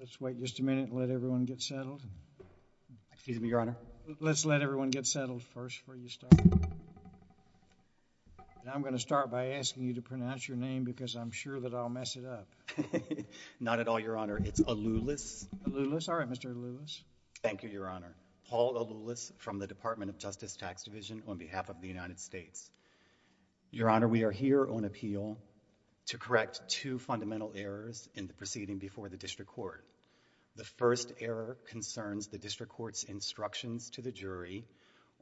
Let's wait just a minute. Let everyone get settled. Excuse me, Your Honor. Let's let everyone get settled first for you start. I'm going to start by asking you to pronounce your name because I'm sure that I'll mess it up. Not at all, Your Honor. It's a Lewis. Lewis. All right, Mr Lewis. Thank you, Your Honor. Paul Lewis from the Department of Justice Tax Division on behalf of the United States. Your Honor, we are here on appeal to correct two fundamental errors in the proceeding before the district court. The first error concerns the district court's instructions to the jury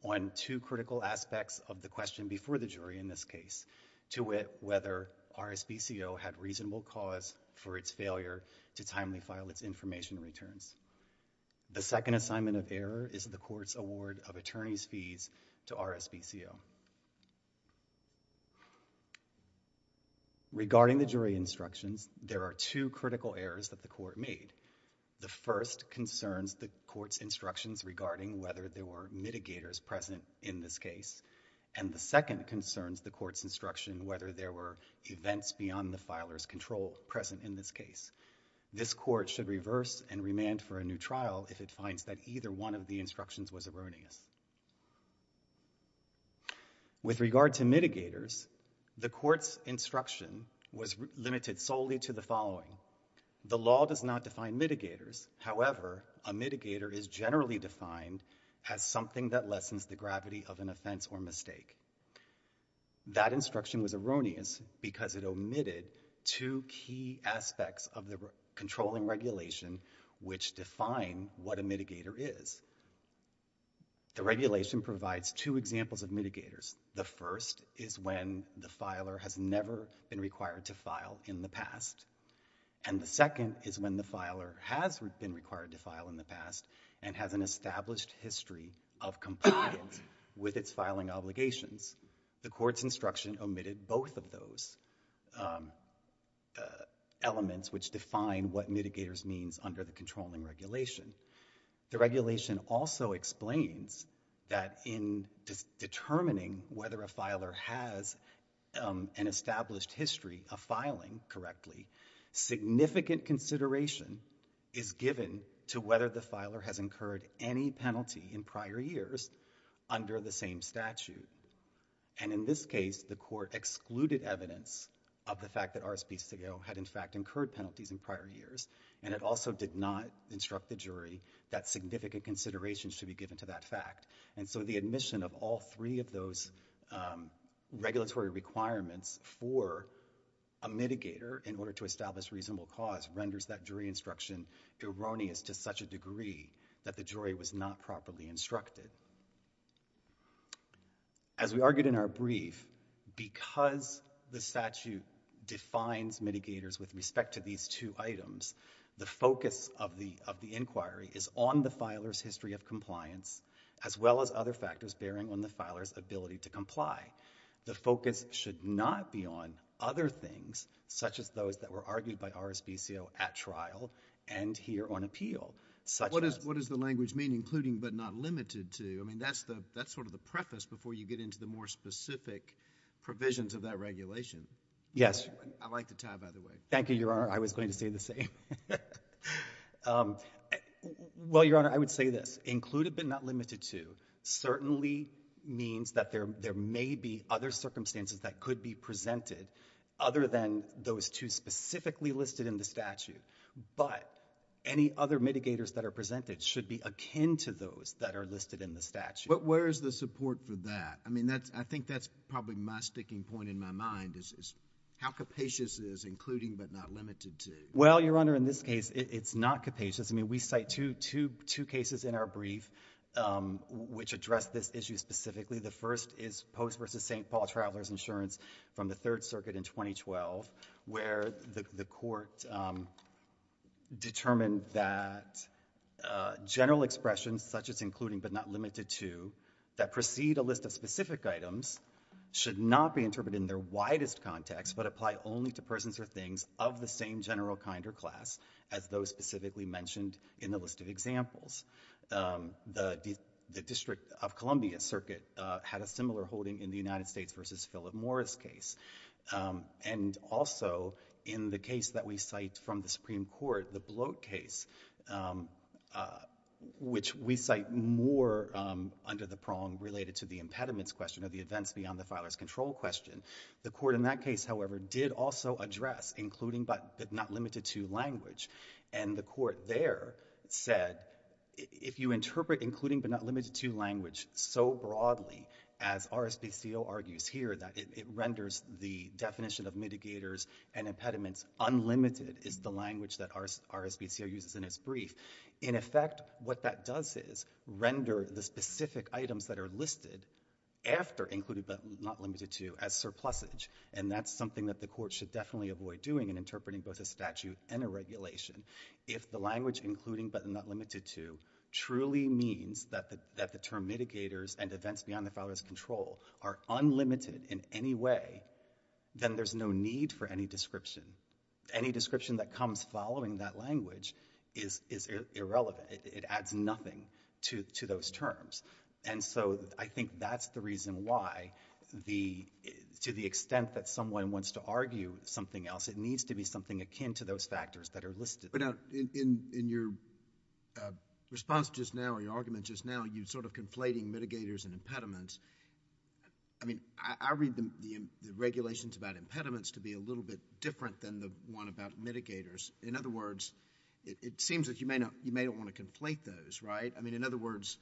on two critical aspects of the question before the jury in this case, to wit, whether R S B C O had reasonable cause for its failure to timely file its information returns. The second assignment of error is the court's award of attorney's fees to R S B C O. Regarding the jury instructions, there are two critical errors that the court made. The first concerns the court's instructions regarding whether there were mitigators present in this case. And the second concerns the court's instruction whether there were events beyond the filer's control present in this case. This court should reverse and remand for a new trial if it finds that either one of the instructions was erroneous. With regard to mitigators, the court's instruction was limited solely to the following. The law does not define mitigators. However, a mitigator is generally defined as something that lessens the gravity of an offense or mistake. That instruction was erroneous because it omitted two key aspects of the controlling regulation which define what a mitigator is. The regulation provides two examples of mitigators. The first is when the filer has never been required to file in the past. And the second is when the filer has been required to file in the past and has an established history of compliance with its filing obligations. The court's instruction omitted both of those, um, uh, elements which define what mitigators means under the controlling regulation. The regulation also explains that in determining whether a filer has, um, an filing correctly, significant consideration is given to whether the filer has incurred any penalty in prior years under the same statute. And in this case, the court excluded evidence of the fact that RSPCAO had, in fact, incurred penalties in prior years. And it also did not instruct the jury that significant consideration should be given to that fact. And so the admission of all three of those, um, regulatory requirements for a mitigator in order to establish reasonable cause renders that jury instruction erroneous to such a degree that the jury was not properly instructed. As we argued in our brief, because the statute defines mitigators with respect to these two items, the focus of the, of the inquiry is on the filer's history of compliance, as well as other factors bearing on the filer's ability to comply. The focus should not be on other things, such as those that were argued by RSPCAO at trial and here on appeal, such as... What does, what does the language mean, including but not limited to? I mean, that's the, that's sort of the preface before you get into the more specific provisions of that regulation. Yes. I like the tie, by the way. Thank you, Your Honor. I was going to say the same. Um, well, Your Honor, I would say this. Included but not limited to certainly means that there, there may be other circumstances that could be presented other than those two specifically listed in the statute, but any other mitigators that are presented should be akin to those that are listed in the statute. But where is the support for that? I mean, that's, I think that's probably my sticking point in my mind is, is how capacious is including but not limited to? Well, Your Honor, in this case, it's not capacious. I mean, we cite two, two, two cases in our brief, um, which address this issue specifically. The first is Post v. St. Paul Travelers Insurance from the Third Circuit in 2012, where the, the court, um, determined that, uh, general expressions such as including but not limited to that precede a list of specific items should not be interpreted in their widest context but apply only to persons or things of the same general kind or class as those specifically mentioned in the list of examples. Um, the, the District of Columbia Circuit, uh, had a similar holding in the United States v. Philip Morris case. Um, and also in the case that we cite from the Supreme Court, the Bloat case, um, uh, which we cite more, um, under the prong related to the impediments question or the events beyond the filer's control question. The court in that case, however, did also address including but not limited to language. And the court there said, if you interpret including but not limited to language so broadly as RSPCO argues here that it, it renders the definition of mitigators and impediments unlimited is the language that RS, RSPCO uses in its brief. In effect, what that does is render the specific items that are listed after included but not limited to as surplusage. And that's something that the court should definitely avoid doing in interpreting both a statute and a regulation. If the language including but not limited to truly means that the, that the term mitigators and events beyond the filer's control are unlimited in any way, then there's no need for any description. Any description that comes following that language is, is irrelevant. It adds nothing to, to those terms. And so I think that's the reason why the, to the extent that someone wants to argue something else, it needs to be something akin to those factors that are listed. But in, in, in your, uh, response just now or your argument just now, you sort of conflating mitigators and impediments. I mean, I, I read the, the regulations about impediments to be a little bit different than the one about mitigators. In other words, it seems that you may not, you may not want to conflate those, right? I mean, in other words,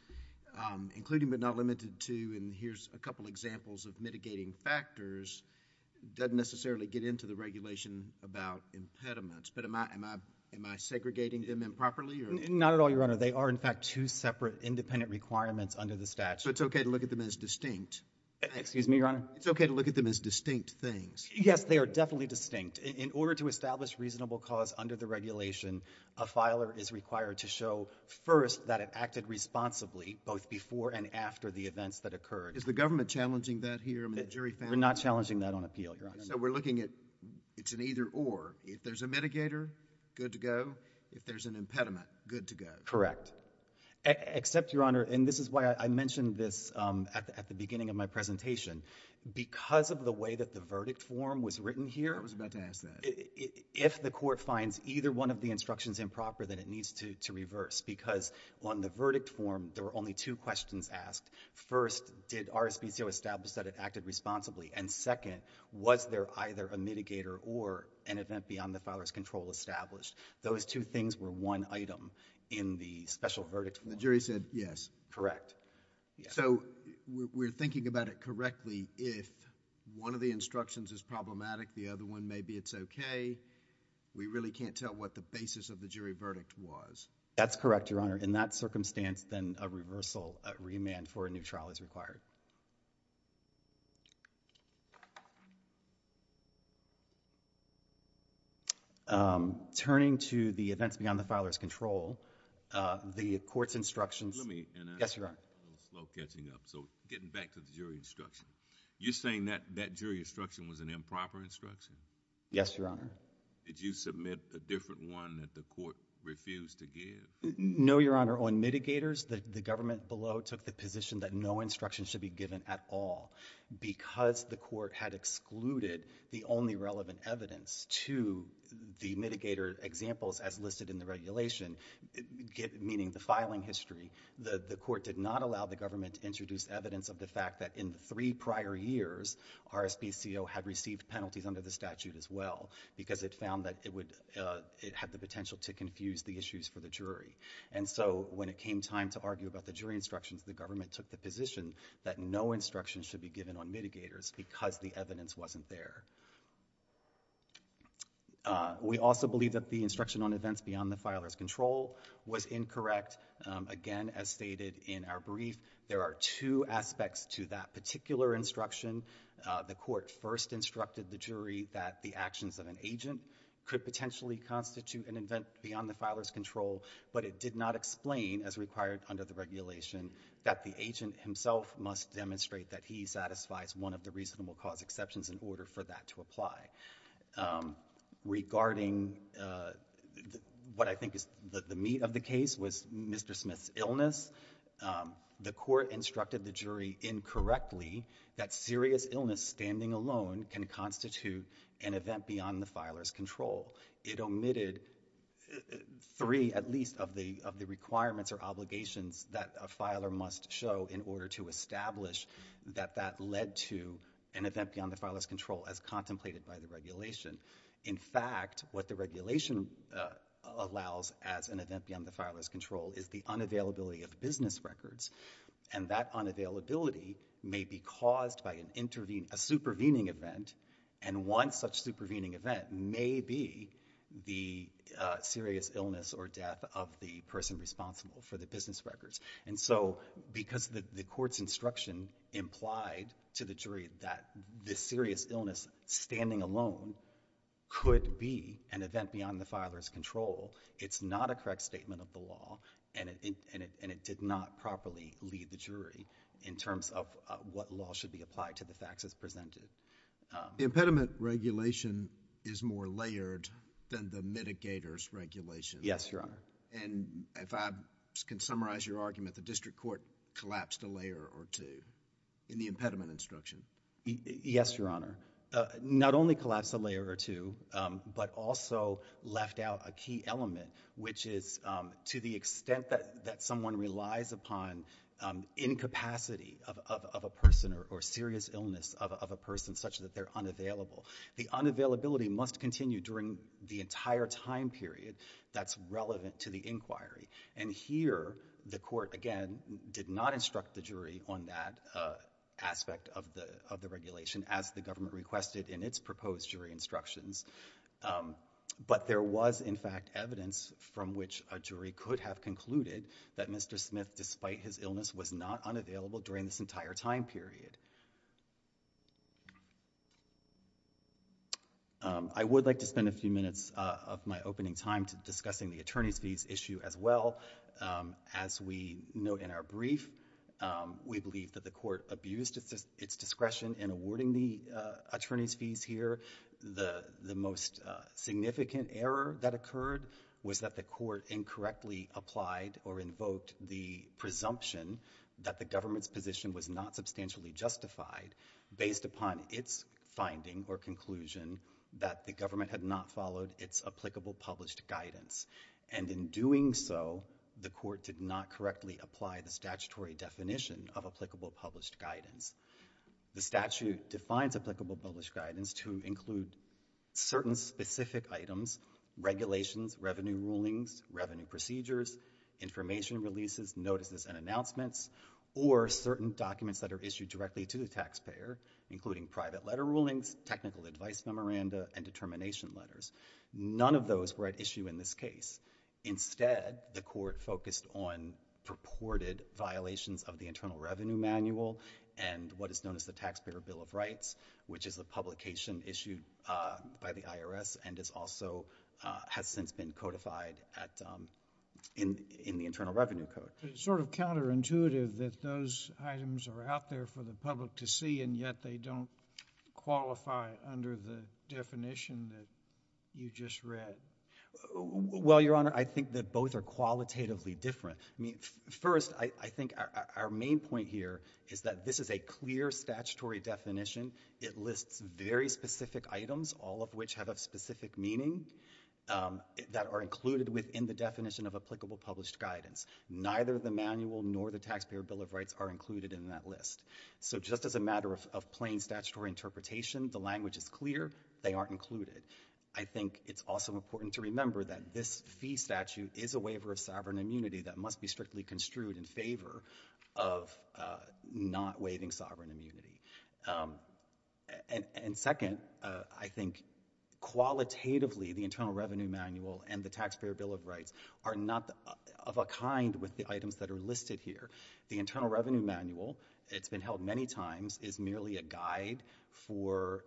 including but not limited to, and here's a couple examples of mitigating factors, doesn't necessarily get into the regulation about impediments. But am I, am I, am I segregating them improperly or? Not at all, Your Honor. They are in fact two separate independent requirements under the statute. So it's okay to look at them as distinct? Excuse me, Your Honor? It's okay to look at them as distinct things? Yes, they are definitely distinct. In order to a filer is required to show first that it acted responsibly both before and after the events that occurred. Is the government challenging that here? I mean, the jury found that. We're not challenging that on appeal, Your Honor. So we're looking at, it's an either or. If there's a mitigator, good to go. If there's an impediment, good to go. Correct. Except, Your Honor, and this is why I mentioned this, um, at the, at the beginning of my presentation, because of the way that the verdict form was written here. I was about to ask that. If the court finds either one of the instructions improper, then it needs to, to reverse. Because on the verdict form, there were only two questions asked. First, did RSVCO establish that it acted responsibly? And second, was there either a mitigator or an event beyond the filer's control established? Those two things were one item in the special verdict form. The jury said yes. Correct. So we're thinking about it correctly. If one of the instructions is problematic, the other one, maybe it's okay. We really can't tell what the basis of the jury verdict was. That's correct, Your Honor. In that circumstance, then a reversal, a remand for a new trial is required. Um, turning to the events beyond the filer's control, uh, the court's instructions... Let me... Yes, Your Honor. I'm slow catching up, so getting back to the jury instruction. You're saying that, that jury instruction was an improper instruction? Yes, Your Honor. Did you submit a different one that the court refused to give? No, Your Honor. On mitigators, the government below took the position that no instruction should be given at all. Because the court had excluded the only relevant evidence to the mitigator examples as listed in the regulation, meaning the filing history, the court did not allow the government to introduce evidence of the fact that in the prior years, RSPCO had received penalties under the statute as well because it found that it would, uh, it had the potential to confuse the issues for the jury. And so when it came time to argue about the jury instructions, the government took the position that no instruction should be given on mitigators because the evidence wasn't there. Uh, we also believe that the instruction on events beyond the filer's control was incorrect. Um, again, as stated in our brief, there are two aspects to that particular instruction. Uh, the court first instructed the jury that the actions of an agent could potentially constitute an event beyond the filer's control, but it did not explain as required under the regulation that the agent himself must demonstrate that he satisfies one of the reasonable cause exceptions in order for that to apply. Um, regarding, uh, what I think is the meat of the case was Mr. Smith's illness. Um, the court instructed the jury incorrectly that serious illness standing alone can constitute an event beyond the filer's control. It omitted three at least of the, of the requirements or obligations that a filer must show in order to establish that that led to an event beyond the filer's control as contemplated by the regulation. In fact, what the regulation, uh, allows as an unavailability of business records and that unavailability may be caused by an intervene, a supervening event. And one such supervening event may be the, uh, serious illness or death of the person responsible for the business records. And so because the court's instruction implied to the jury that this serious illness standing alone could be an event beyond the law and it, and it, and it did not properly lead the jury in terms of what law should be applied to the facts as presented. Um. The impediment regulation is more layered than the mitigators regulation. Yes, Your Honor. And if I can summarize your argument, the district court collapsed a layer or two in the impediment instruction. Yes, Your Honor. Not only collapsed a layer or two, um, but also left out a key element, which is, um, to the extent that, that someone relies upon, um, incapacity of, of, of a person or serious illness of, of a person such that they're unavailable. The unavailability must continue during the entire time period that's relevant to the inquiry. And here the court, again, did not instruct the jury on that, uh, aspect of the, of the regulation as the government requested in its proposed jury instructions. Um, but there was in fact evidence from which a jury could have concluded that Mr. Smith, despite his illness was not unavailable during this entire time period. Um, I would like to spend a few minutes, uh, of my opening time to discussing the attorney's fees issue as well. Um, as we know in our brief, um, we believe that the court abused its discretion in awarding the, uh, attorney's fees here. The, the most significant error that occurred was that the court incorrectly applied or invoked the presumption that the government's position was not substantially justified based upon its finding or conclusion that the government had not followed its applicable published guidance. And in doing so, the court did not correctly apply the statutory definition of applicable published guidance. The statute defines applicable published guidance to include certain specific items, regulations, revenue rulings, revenue procedures, information releases, notices, and announcements, or certain documents that are issued directly to the taxpayer, including private letter rulings, technical advice memoranda, and determination letters. None of those were at issue in this case. Instead, the court focused on purported violations of the Internal Revenue Manual and what is known as the Taxpayer Bill of Rights, which is a publication issued, uh, by the IRS and is also, uh, has since been codified at, um, in, in the Internal Revenue Code. It's sort of counterintuitive that those items are out there for the public to see and yet they don't qualify under the definition that you just read. Well, Your Honor, I think that both are qualitatively different. I mean, first, I, I think our, our main point here is that this is a clear statutory definition. It lists very specific items, all of which have a specific meaning, um, that are included within the definition of applicable published guidance. Neither the manual nor the Taxpayer Bill of of plain statutory interpretation, the language is clear, they aren't included. I think it's also important to remember that this fee statute is a waiver of sovereign immunity that must be strictly construed in favor of, uh, not waiving sovereign immunity. Um, and, and second, uh, I think qualitatively the Internal Revenue Manual and the Taxpayer Bill of Rights are not of a kind with the items that are listed here. The Internal Revenue Manual, it's been held many times, is merely a guide for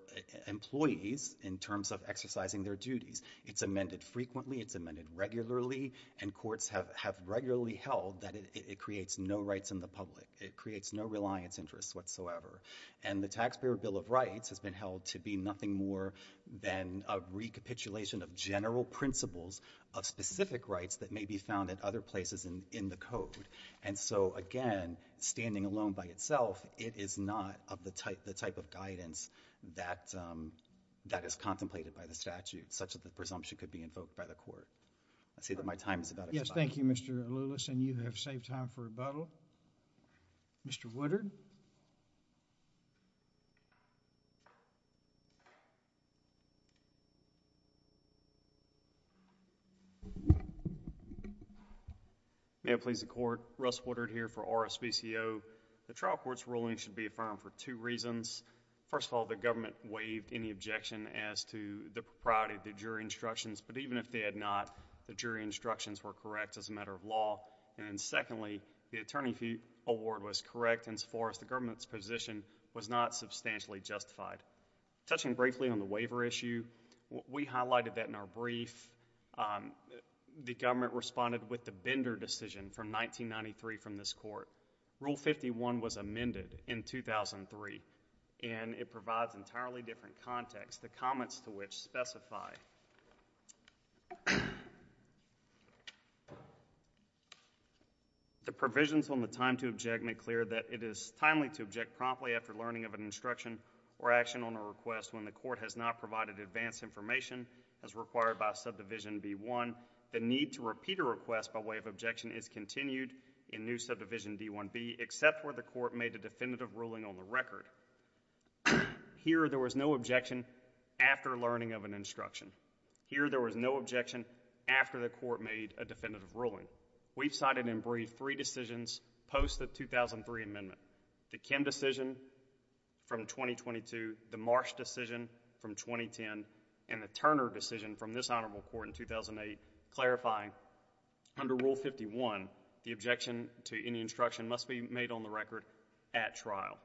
employees in terms of exercising their duties. It's amended frequently, it's amended regularly, and courts have, have regularly held that it, it creates no rights in the public. It creates no reliance interests whatsoever. And the Taxpayer Bill of Rights has been held to be nothing more than a recapitulation of general principles of specific rights that may be found at other places in, in the code. And so, again, standing alone by itself, it is not of the type, the type of guidance that, um, that is contemplated by the statute such that the presumption could be invoked by the court. I see that my time is about to expire. Yes, thank you, Mr. Lewis, and you have saved time for rebuttal. Mr. Woodard? May it please the Court, Russ Woodard here for RSVCO. The trial court's ruling should be affirmed for two reasons. First of all, the government waived any objection as to the propriety of the jury instructions, but even if they had not, the jury instructions were correct as a matter of law. And secondly, the attorney award was correct in as far as the government's position was not substantially justified. Touching briefly on the waiver issue, we highlighted that in our brief. Um, the government responded with the Bender decision from 1993 from this court. Rule 51 was amended in 2003, and it provides entirely different context, the comments to which specify. The provisions on the time to object make clear that it is timely to object promptly after learning of an instruction or action on a request when the court has not provided advanced information as required by Subdivision B-1. The need to repeat a request by way of objection is continued in new Subdivision D-1B, except where the court made a definitive ruling on the record. Here, there was no objection after learning of an instruction. Here, there was no objection after the court made a definitive ruling. We've cited in brief three decisions post the 2003 amendment. The Kim decision from 2022, the Marsh decision from 2010, and the Turner decision from this honorable court in 2008, clarifying under Rule 51, the objection to any instruction must be made on the record at trial.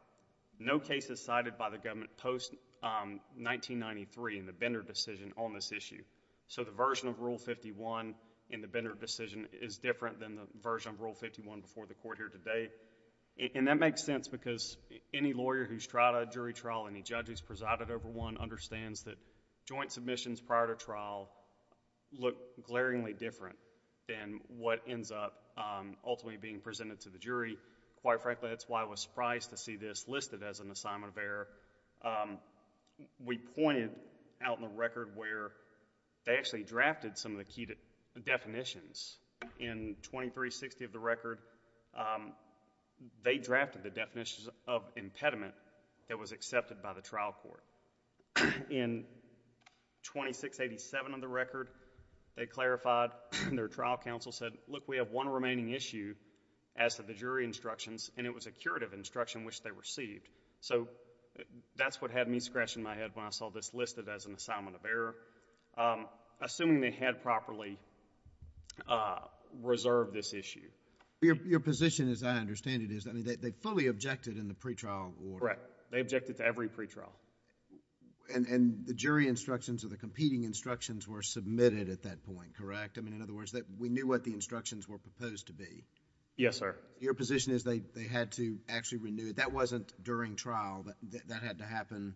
No case is cited by the government post, um, 1993 in the Bender decision on this issue. So the version of Rule 51 in the Bender decision is different than the version of Rule 51 before the court here today. And that makes sense because any lawyer who's tried a jury trial, any judge who's presided over one, understands that joint submissions prior to trial look glaringly different than what ends up ultimately being presented to the jury. Quite frankly, that's why I was surprised to see this listed as an assignment of error. We pointed out in the record where they actually drafted some of the key definitions. In 2360 of the record, they drafted the definitions of impediment that was accepted by the trial court. In 2687 of the record, they clarified, their trial counsel said, look, we have one remaining issue as to the jury instructions, and it was a curative instruction which they received. So that's what had me scratching my head when I saw this listed as an assignment of error. Assuming they had properly, uh, reserved this issue. Your position as I understand it is, I mean, they fully objected in the pretrial order. Correct. They objected to every pretrial. And the jury instructions or the competing instructions were submitted at that point, correct? I mean, in other words, we knew what the instructions were proposed to be. Yes, sir. Your position is they had to actually renew it. That wasn't during trial. That had to happen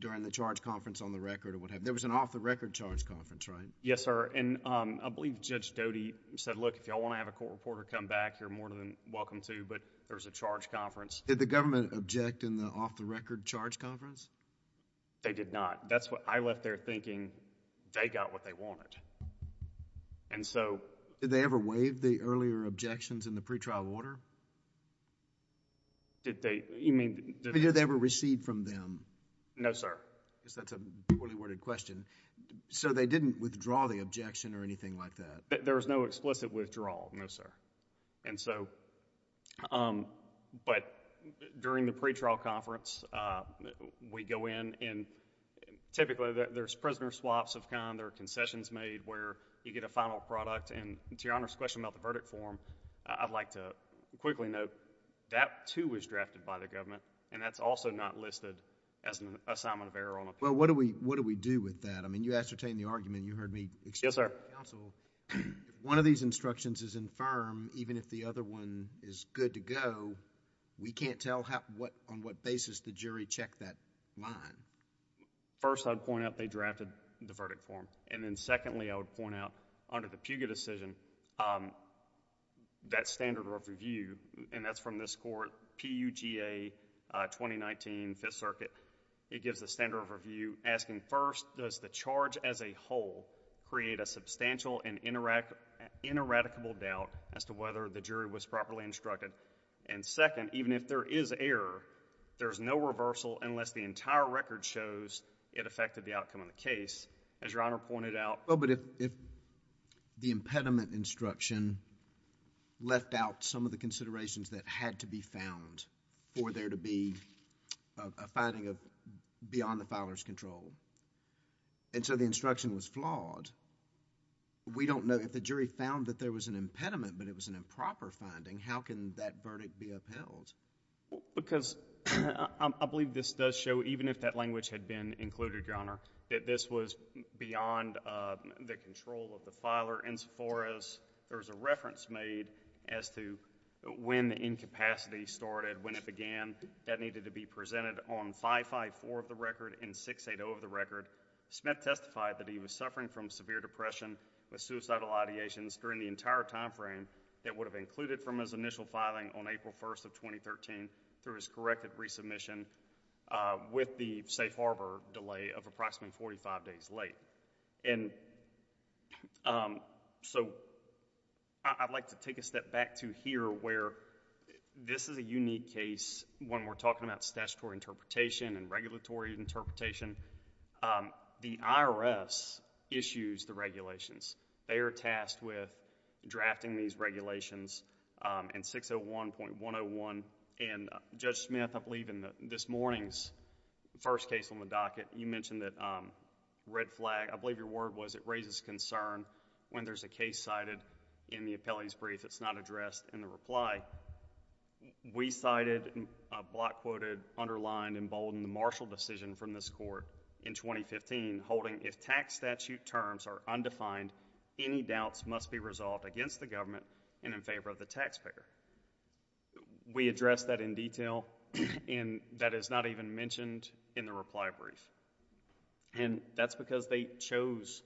during the charge conference on the record or whatever. There was an off-the-record charge conference, right? Yes, sir. And I believe Judge Doty said, look, if you all want to have a court reporter come back, you're more than welcome to, but there's a charge conference. Did the government object in the off-the-record charge conference? They did not. That's what, I left there thinking they got what they wanted. And so... Did they ever waive the earlier objections in the pretrial order? Did they, you mean... Did they ever recede from them? No, sir. Because that's a duly worded question. So they didn't withdraw the objection or anything like that? There was no explicit withdrawal. No, sir. And so... but during the pretrial conference, we go in and typically there's prisoner swaps of kind. There are concessions made where you get a final product. And to Your Honor's question about the verdict form, I'd like to quickly note that too was drafted by the government, and that's also not listed as an assignment of error. Well, what do we do with that? I mean, you ascertained the argument. You heard me... Yes, sir. If one of these instructions is infirm, even if the other one is good to go, we can't tell on what basis the jury checked that line. First, I'd point out they drafted the verdict form. And then secondly, I would point out under the Puga decision, that standard of review, and that's from this court, PUGA 2019 Fifth Circuit, it gives the standard of review asking first, does the charge as a whole create a ineradicable doubt as to whether the jury was properly instructed? And second, even if there is error, there's no reversal unless the entire record shows it affected the outcome of the case. As Your Honor pointed out... Well, but if the impediment instruction left out some of the considerations that had to be found for there to be a finding of beyond the filer's control, and so the instruction was flawed, we don't know if the jury found that there was an impediment, but it was an improper finding, how can that verdict be upheld? Because I believe this does show, even if that language had been included, Your Honor, that this was beyond the control of the filer insofar as there's a reference made as to when incapacity started, when it began, that needed to be presented on 554 of the record and 680 of the record. Smith testified that he was suffering from severe depression with suicidal ideations during the entire time frame that would have included from his initial filing on April 1st of 2013 through his corrected resubmission with the safe harbor delay of approximately 45 days late. I'd like to take a step back to here where this is a unique case when we're talking about statutory interpretation and regulatory interpretation. The IRS issues the regulations. They are tasked with drafting these regulations in 601.101, and Judge Smith, I believe in this morning's first case on the docket, you mentioned that red flag, I believe your word was it raises concern when there's a case cited in the appellee's brief that's not addressed in the reply. We cited a block-quoted, underlined, emboldened, martial decision from this court in 2015 holding if tax statute terms are undefined, any doubts must be resolved against the government and in mentioned in the reply brief, and that's because they chose,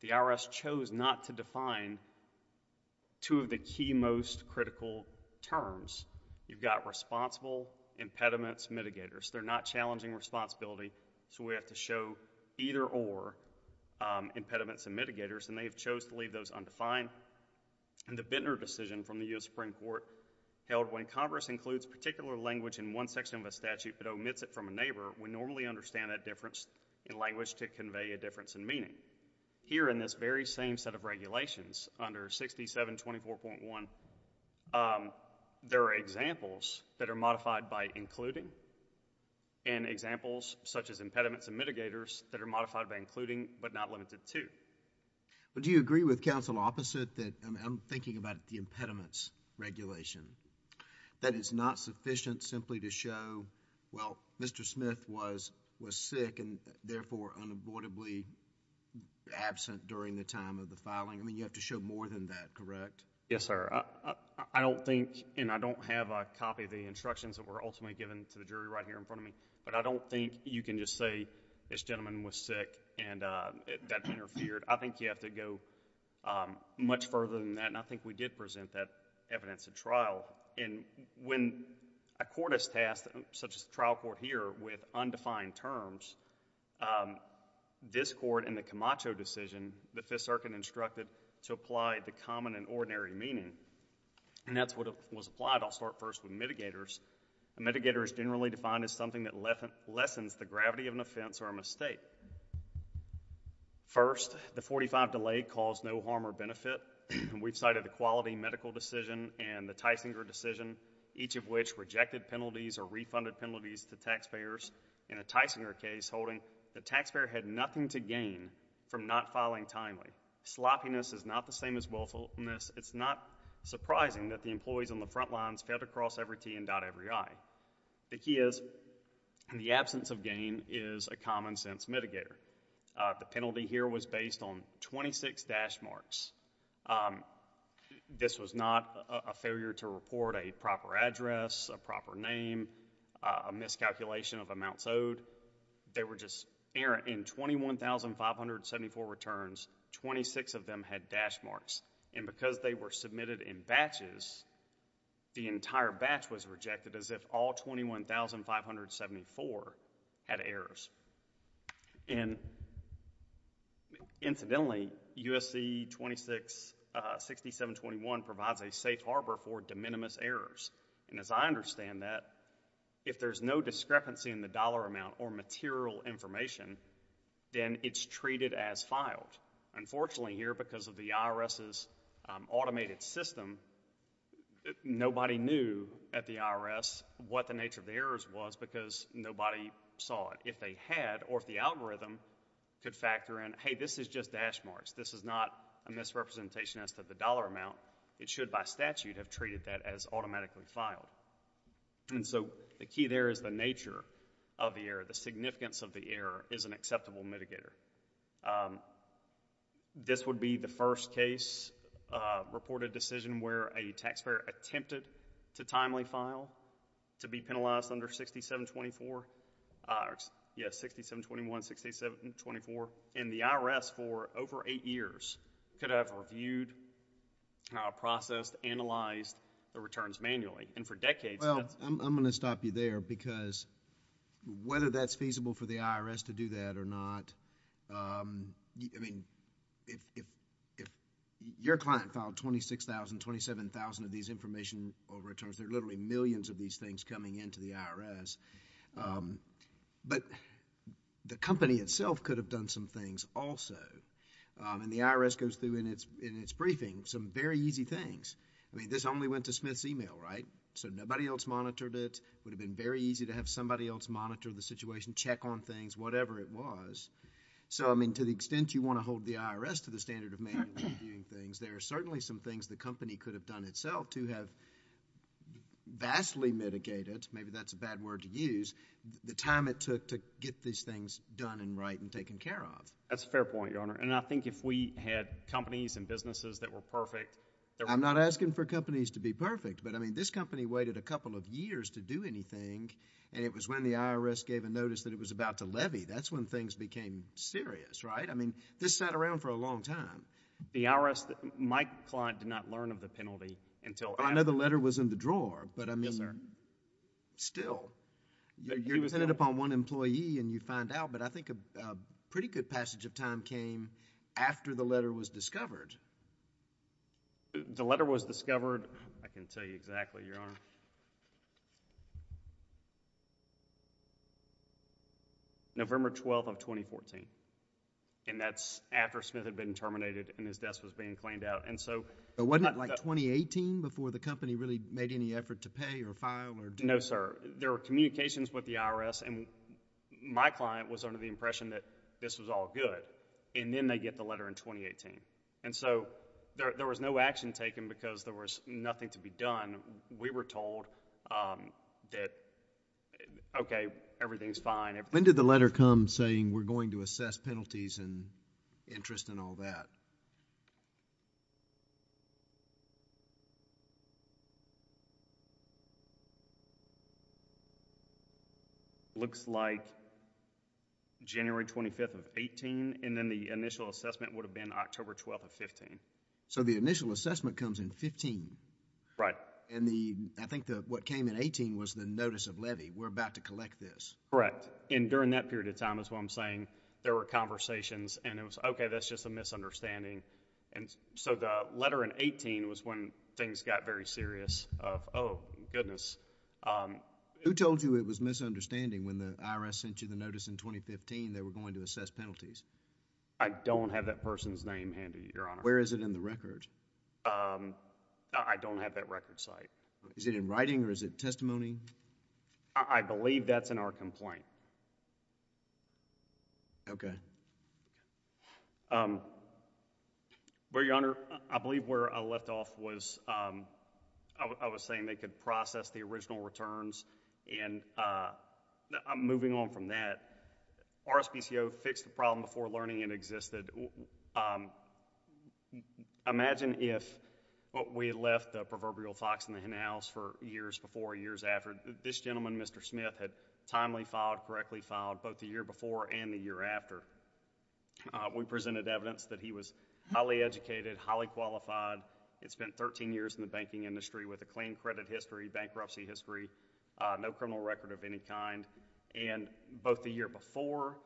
the IRS chose not to define two of the key most critical terms. You've got responsible, impediments, mitigators. They're not challenging responsibility, so we have to show either or impediments and mitigators, and they've chose to leave those undefined, and the Bittner decision from the U.S. Supreme Court held when Congress includes particular language in one section of a statute but omits it from a neighbor, we normally understand that difference in language to convey a difference in meaning. Here in this very same set of regulations under 6724.1, there are examples that are modified by including and examples such as impediments and mitigators that are modified by including but not limited to. But do you agree with counsel opposite that I'm thinking about the impediments regulation, that it's not sufficient simply to show, well, Mr. Smith was sick and therefore unavoidably absent during the time of the filing? I mean, you have to show more than that, correct? Yes, sir. I don't think, and I don't have a copy of the instructions that were ultimately given to the jury right here in front of me, but I don't think you can just say this gentleman was sick and that interfered. I think you have to go much further than that, and I think we did present that evidence at trial. And when a court is tasked, such as the trial court here, with undefined terms, this court in the Camacho decision, the Fifth Circuit instructed to apply the common and ordinary meaning, and that's what was applied. I'll start first with mitigators. A mitigator is generally defined as something that lessens the gravity of an offense or a mistake. First, the 45 delay caused no harm or benefit. We've cited a quality medical decision and the Tysinger decision, each of which rejected penalties or refunded penalties to taxpayers. In a Tysinger case holding, the taxpayer had nothing to gain from not filing timely. Sloppiness is not the same as willfulness. It's not surprising that the employees on the front lines failed to gain is a common-sense mitigator. The penalty here was based on 26 dash marks. This was not a failure to report a proper address, a proper name, a miscalculation of amounts owed. They were just errant. In 21,574 returns, 26 of them had dash marks, and because they were submitted in batches, the entire batch was rejected as if all 21,574 had errors. And incidentally, USC 266721 provides a safe harbor for de minimis errors, and as I understand that, if there's no discrepancy in the dollar amount or material information, then it's treated as filed. Unfortunately here, because of the IRS's automated system, nobody knew at the IRS what the nature of the errors was because nobody saw it. If they had, or if the algorithm could factor in, hey, this is just dash marks. This is not a misrepresentation as to the dollar amount. It should, by statute, have treated that as automatically filed. And so the key there is the nature of the error. The significance of the error is an acceptable mitigator. This would be the first case, reported decision, where a taxpayer attempted to timely file, to be penalized under 6724. Yes, 6721, 6724. And the IRS, for over eight years, could have reviewed, processed, analyzed the returns manually. And for decades... I'm going to stop you there, because whether that's feasible for the IRS to do that or not, I mean, if your client filed 26,000, 27,000 of these information or returns, there are literally millions of these things coming into the IRS. But the company itself could have done some things also. And the IRS goes through in its briefing some very easy things. I mean, this only went to Smith's email, right? So nobody else monitored it. It would have been very easy to have somebody else monitor the situation, check on things, whatever it was. So, I mean, to the extent you want to hold the IRS to the standard of manually reviewing things, there are certainly some things the company could have done itself to have vastly mitigated, maybe that's a bad word to use, the time it took to get these things done and right and taken care of. That's a fair point, Your Honor. And I think if we had companies and businesses that were perfect... I'm not asking for companies to be perfect, but I mean, this company waited a couple of years to do anything, and it was when the IRS gave a notice that it was about to levy, that's when things became serious, right? I mean, this sat around for a long time. The IRS, my client did not learn of the penalty until after... I know the letter was in the drawer, but I mean... Yes, sir. Still, you're dependent upon one employee and you find out, but I think a pretty good passage of time came after the letter was discovered. The letter was discovered, I can tell you exactly, Your Honor, November 12th of 2014, and that's after Smith had been terminated and his desk was being cleaned out, and so... But wasn't it like 2018 before the company really made any effort to pay or file or... No, sir. There were communications with the IRS and my client was the impression that this was all good, and then they get the letter in 2018, and so there was no action taken because there was nothing to be done. We were told that, okay, everything's fine. When did the letter come saying, we're going to assess penalties and interest and all that? It looks like January 25th of 2018, and then the initial assessment would have been October 12th of 2015. So the initial assessment comes in 2015? Right. And I think what came in 2018 was the notice of levy, we're about to collect this. Correct, and during that period of time is what I'm saying, there were conversations, and it was, okay, that's just a misunderstanding, and so the letter in 2018 was when things got very serious of, oh, goodness. Who told you it was misunderstanding when the IRS sent you the notice in 2015 that we're going to assess penalties? I don't have that person's name handy, Your Honor. Where is it in the record? I don't have that record site. Is it in writing or is it testimony? I believe that's in our complaint. Okay. Well, Your Honor, I believe where I left off was, I was saying they could process the original returns, and I'm moving on from that. RSPCO fixed the problem before learning it existed. Imagine if we had left the proverbial fox in the hen house for years before or years after. This gentleman, Mr. Smith, had timely filed, correctly filed both the year before and the year after. We presented evidence that he was highly educated, highly qualified, had spent 13 years in the banking industry with a clean credit history, bankruptcy history, no criminal record of any kind, and both the year before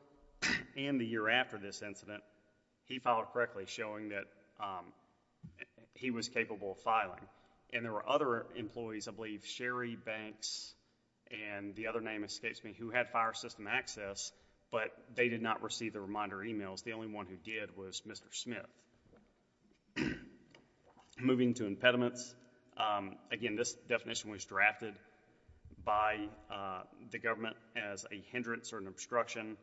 and the year after this incident, he filed correctly showing that he was capable of filing, and there were other employees, I believe, Sherry Banks, and the other name escapes me, who had fire system access, but they did not receive the reminder emails. The only one who did was Mr. Smith. Moving to impediments. Again, this definition was drafted by the government as a hindrance or an obstruction.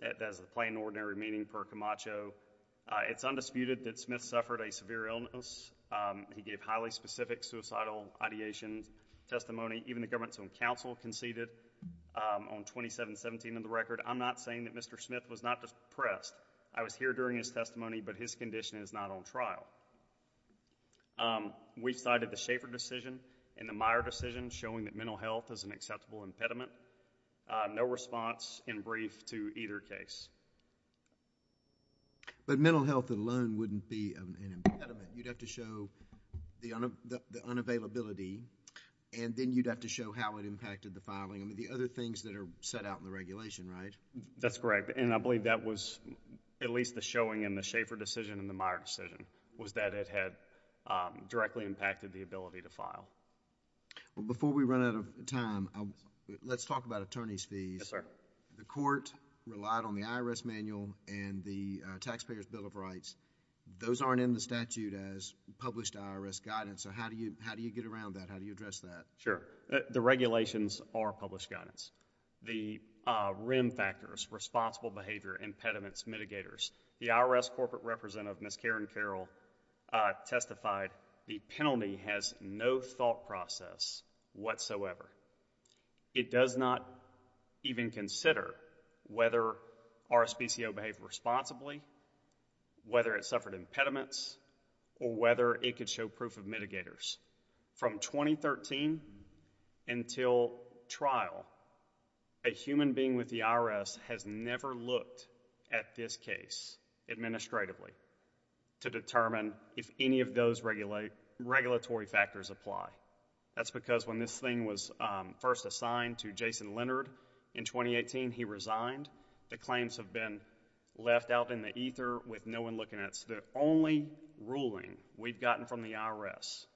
That is a plain and ordinary meaning per Camacho. It's undisputed that Smith suffered a severe illness. He gave highly specific suicidal ideation testimony. Even the government's own counsel conceded on 2717 of the record, I'm not saying that Mr. Smith was not depressed. I was here during his testimony, but his condition is not on trial. We cited the Schaeffer decision and the Meyer decision showing that mental health is an acceptable impediment. No response in brief to either case. But mental health alone wouldn't be an impediment. You'd have to show the unavailability, and then you'd have to show how it impacted the filing. I mean, the other things that are set out in the regulation, right? That's correct, and I believe that was at least the showing in the Schaeffer decision and the Meyer decision was that it had directly impacted the ability to file. Before we run out of time, let's talk about attorney's fees. Yes, sir. The court relied on the IRS manual and the Taxpayer's Bill of Rights. Those aren't in the statute as published IRS guidance, so how do you get around that? How do you address that? Sure. The regulations are published guidance. The REM factors, responsible behavior, impediments, mitigators. The IRS corporate representative, Ms. Karen Carroll, testified the penalty has no thought process whatsoever. It does not even consider whether RSPCO behaved responsibly, whether it suffered impediments, or whether it could show proof of mitigators. From 2013 until trial, a human being with the IRS has never looked at this case administratively to determine if any of those regulatory factors apply. That's because when this thing was first assigned to Jason Leonard in 2018, he resigned. The claims have been left out in the ether with no one looking at it. The only ruling we've gotten from the IRS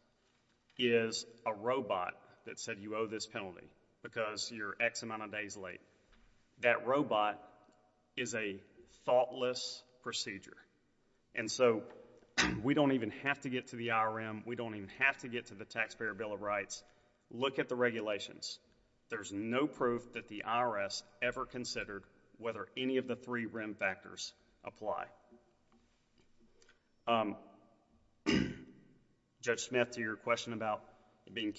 is a robot that said you owe this penalty because you're X amount of days late. That robot is a thoughtless procedure. We don't even have to get to the IRM. We don't even have to get to the Taxpayer's Bill of Rights. Look at the regulations. There's no proof that the IRS ever considered whether any of the three REM factors apply. Judge Smith, to your question about it being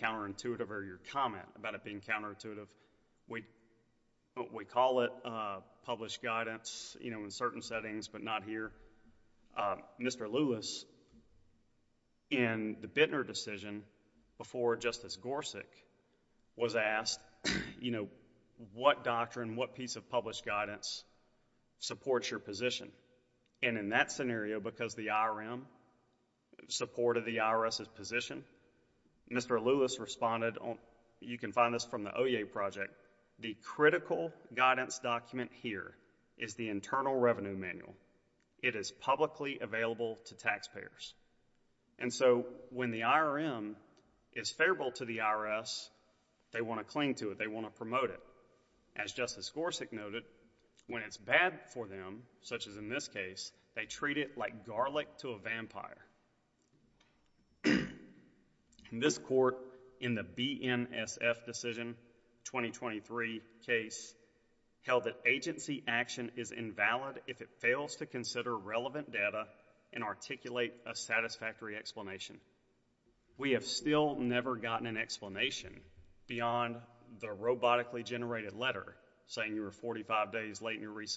published guidance in certain settings but not here, Mr. Lewis, in the Bittner decision before Justice Gorsuch, was asked what doctrine, what piece of published guidance supports your position? In that scenario, because the IRM supported the IRS's position, Mr. Lewis responded, you can find this from the OEA project, the critical guidance document is the Internal Revenue Manual. It is publicly available to taxpayers. When the IRM is favorable to the IRS, they want to cling to it. They want to promote it. As Justice Gorsuch noted, when it's bad for them, such as in this case, they treat it like garlic to a vampire. In this court, in the BNSF decision, 2023 case, held that agency action is invalid if it fails to consider relevant data and articulate a satisfactory explanation. We have still never gotten an explanation beyond the robotically generated letter saying you were 45 days late in what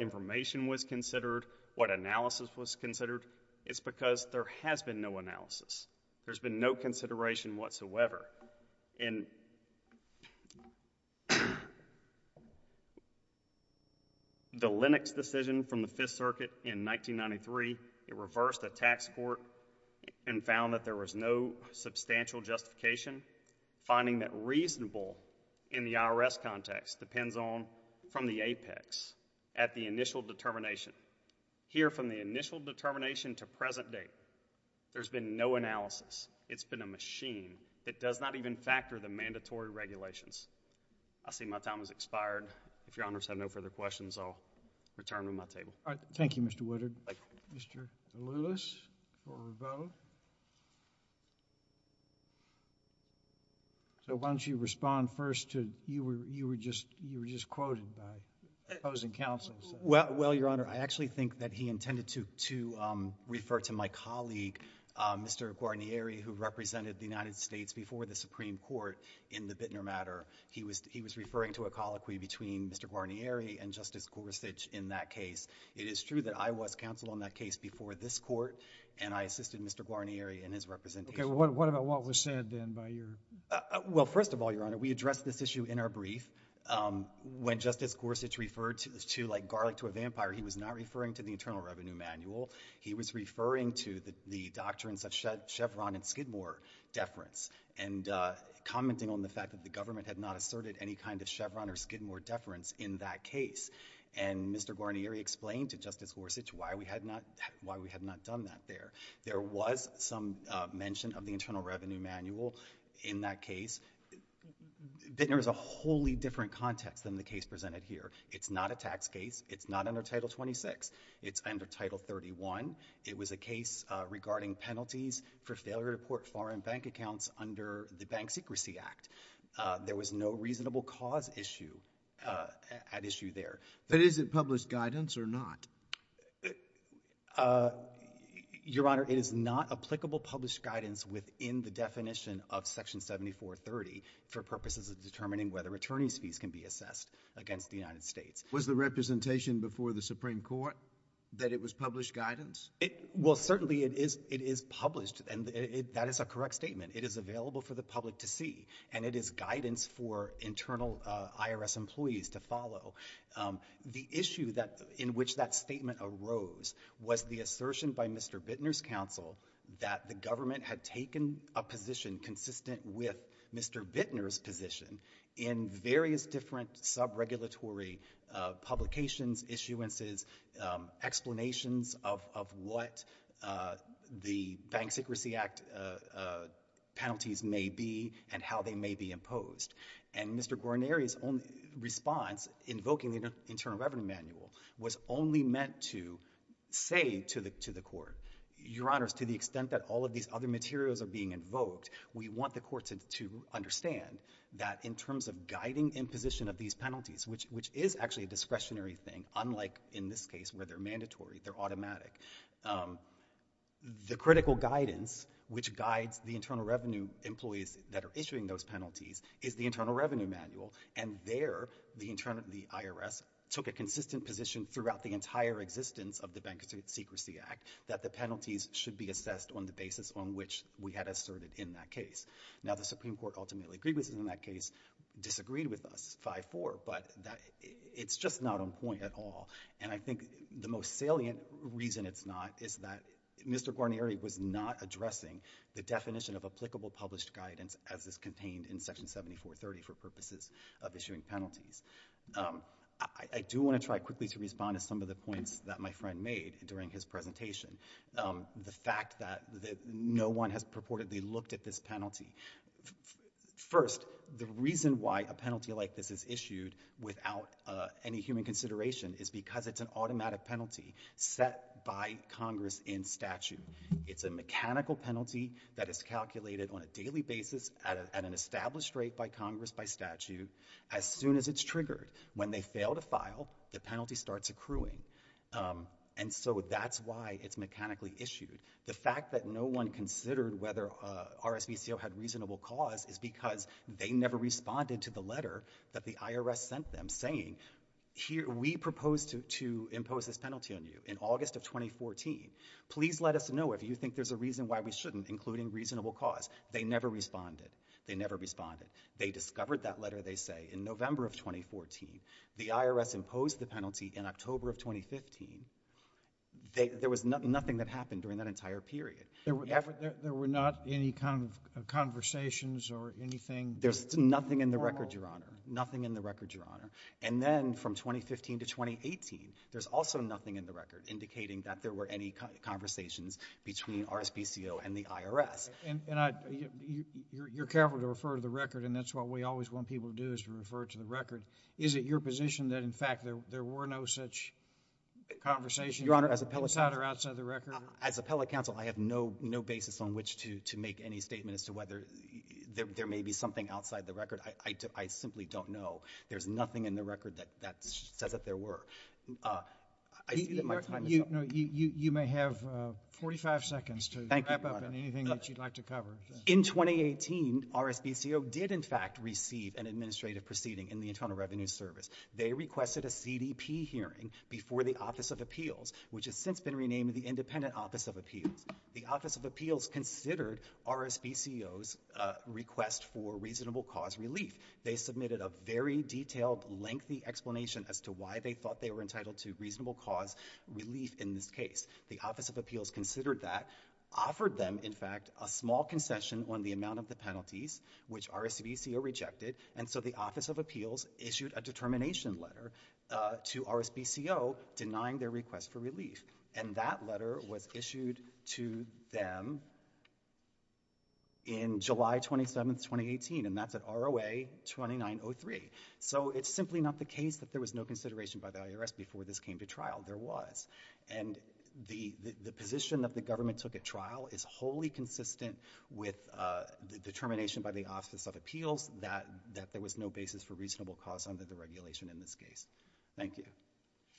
information was considered, what analysis was considered. It's because there has been no analysis. There's been no consideration whatsoever. The Lennox decision from the Fifth Circuit in 1993, it reversed the tax court and found that there was no substantial justification, finding that reasonable in the IRS context depends on from the apex at the initial determination. Here from the initial determination to present date, there's been no analysis. It's been a machine that does not even factor the mandatory regulations. I see my time has expired. If your honors have no further questions, I'll return to my table. All right. Thank you, Mr. Woodard. Mr. Lewis for a vote. So why don't you respond first to, you were just quoted by opposing counsels. Well, your honor, I actually think that he intended to refer to my colleague, Mr. Guarnieri, who represented the United States before the Supreme Court in the Bittner matter. He was referring to a colloquy between Mr. Guarnieri and Justice Gorsuch in that case. It is true that I counseled on that case before this court, and I assisted Mr. Guarnieri in his representation. Okay. What about what was said then by your... Well, first of all, your honor, we addressed this issue in our brief. When Justice Gorsuch referred to like garlic to a vampire, he was not referring to the Internal Revenue Manual. He was referring to the doctrines of Chevron and Skidmore deference and commenting on the fact that the government had not asserted any kind of Chevron or Skidmore deference in that case. Why we had not done that there. There was some mention of the Internal Revenue Manual in that case. Bittner is a wholly different context than the case presented here. It's not a tax case. It's not under Title 26. It's under Title 31. It was a case regarding penalties for failure to port foreign bank accounts under the Bank Secrecy Act. There was no reasonable cause issue at issue there. But is it published guidance or not? Uh, your honor, it is not applicable published guidance within the definition of Section 7430 for purposes of determining whether attorney's fees can be assessed against the United States. Was the representation before the Supreme Court that it was published guidance? It, well, certainly it is. It is published and that is a correct statement. It is available for the public to see and it is guidance for internal IRS employees to follow. The issue in which that statement arose was the assertion by Mr. Bittner's counsel that the government had taken a position consistent with Mr. Bittner's position in various different sub-regulatory publications, issuances, explanations of what the Bank Secrecy Act penalties may be and how they may be imposed. And Mr. Guarneri's response invoking the Internal Revenue Manual was only meant to say to the court, your honors, to the extent that all of these other materials are being invoked, we want the courts to understand that in terms of guiding imposition of these penalties, which is actually a discretionary thing, unlike in this case where they're mandatory, they're automatic, the critical guidance which guides the Internal Revenue employees that are issuing those penalties is the Internal Revenue Manual and there the IRS took a consistent position throughout the entire existence of the Bank Secrecy Act that the penalties should be assessed on the basis on which we had asserted in that case. Now, the Supreme Court ultimately agreed with us in that case, disagreed with us 5-4, but it's just not on point at all and I think the most salient reason it's not is that Mr. Guarneri was not addressing the definition of applicable published guidance as is contained in Section 7430 for purposes of issuing penalties. I do want to try quickly to respond to some of the points that my friend made during his presentation. The fact that no one has purportedly looked at this penalty. First, the reason why a set by Congress in statute. It's a mechanical penalty that is calculated on a daily basis at an established rate by Congress by statute. As soon as it's triggered, when they fail to file, the penalty starts accruing. And so that's why it's mechanically issued. The fact that no one considered whether RSVCO had reasonable cause is because they never responded to the letter that the IRS sent them saying, we propose to impose this penalty on you in August of 2014. Please let us know if you think there's a reason why we shouldn't, including reasonable cause. They never responded. They never responded. They discovered that letter, they say, in November of 2014. The IRS imposed the penalty in October of 2015. There was nothing that happened during that entire period. There were not any conversations or anything? There's nothing in the record, Your Honor. Nothing in the record, Your Honor. And then, from 2015 to 2018, there's also nothing in the record indicating that there were any conversations between RSVCO and the IRS. And you're careful to refer to the record, and that's what we always want people to do is to refer to the record. Is it your position that, in fact, there were no such conversations inside or outside the record? As appellate counsel, I have no basis on which to make any statement as to whether there may be something outside the record. I simply don't know. There's nothing in the record that says that there were. You may have 45 seconds to wrap up anything that you'd like to cover. In 2018, RSVCO did, in fact, receive an administrative proceeding in the Internal Revenue Service. They requested a CDP hearing before the Office of Appeals, which has since been renamed the Independent Office of Appeals. The Office of Appeals considered RSVCO's request for reasonable cause relief. They submitted a very detailed, lengthy explanation as to why they thought they were entitled to reasonable cause relief in this case. The Office of Appeals considered that, offered them, in fact, a small concession on the amount of the penalties, which RSVCO rejected, and so the Office of Appeals issued a determination letter to RSVCO denying their request for relief. And that letter was issued to them in July 27, 2018, and that's at ROA-2903. So it's simply not the case that there was no consideration by the IRS before this came to trial. There was. And the position that the government took at trial is wholly consistent with the determination by the Office of Appeals that there was no basis for reasonable cause under the regulation in this case. Thank you.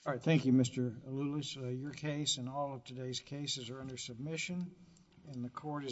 All right. Thank you, Mr. Alulis. Your case and all of today's cases are under submission, and the court is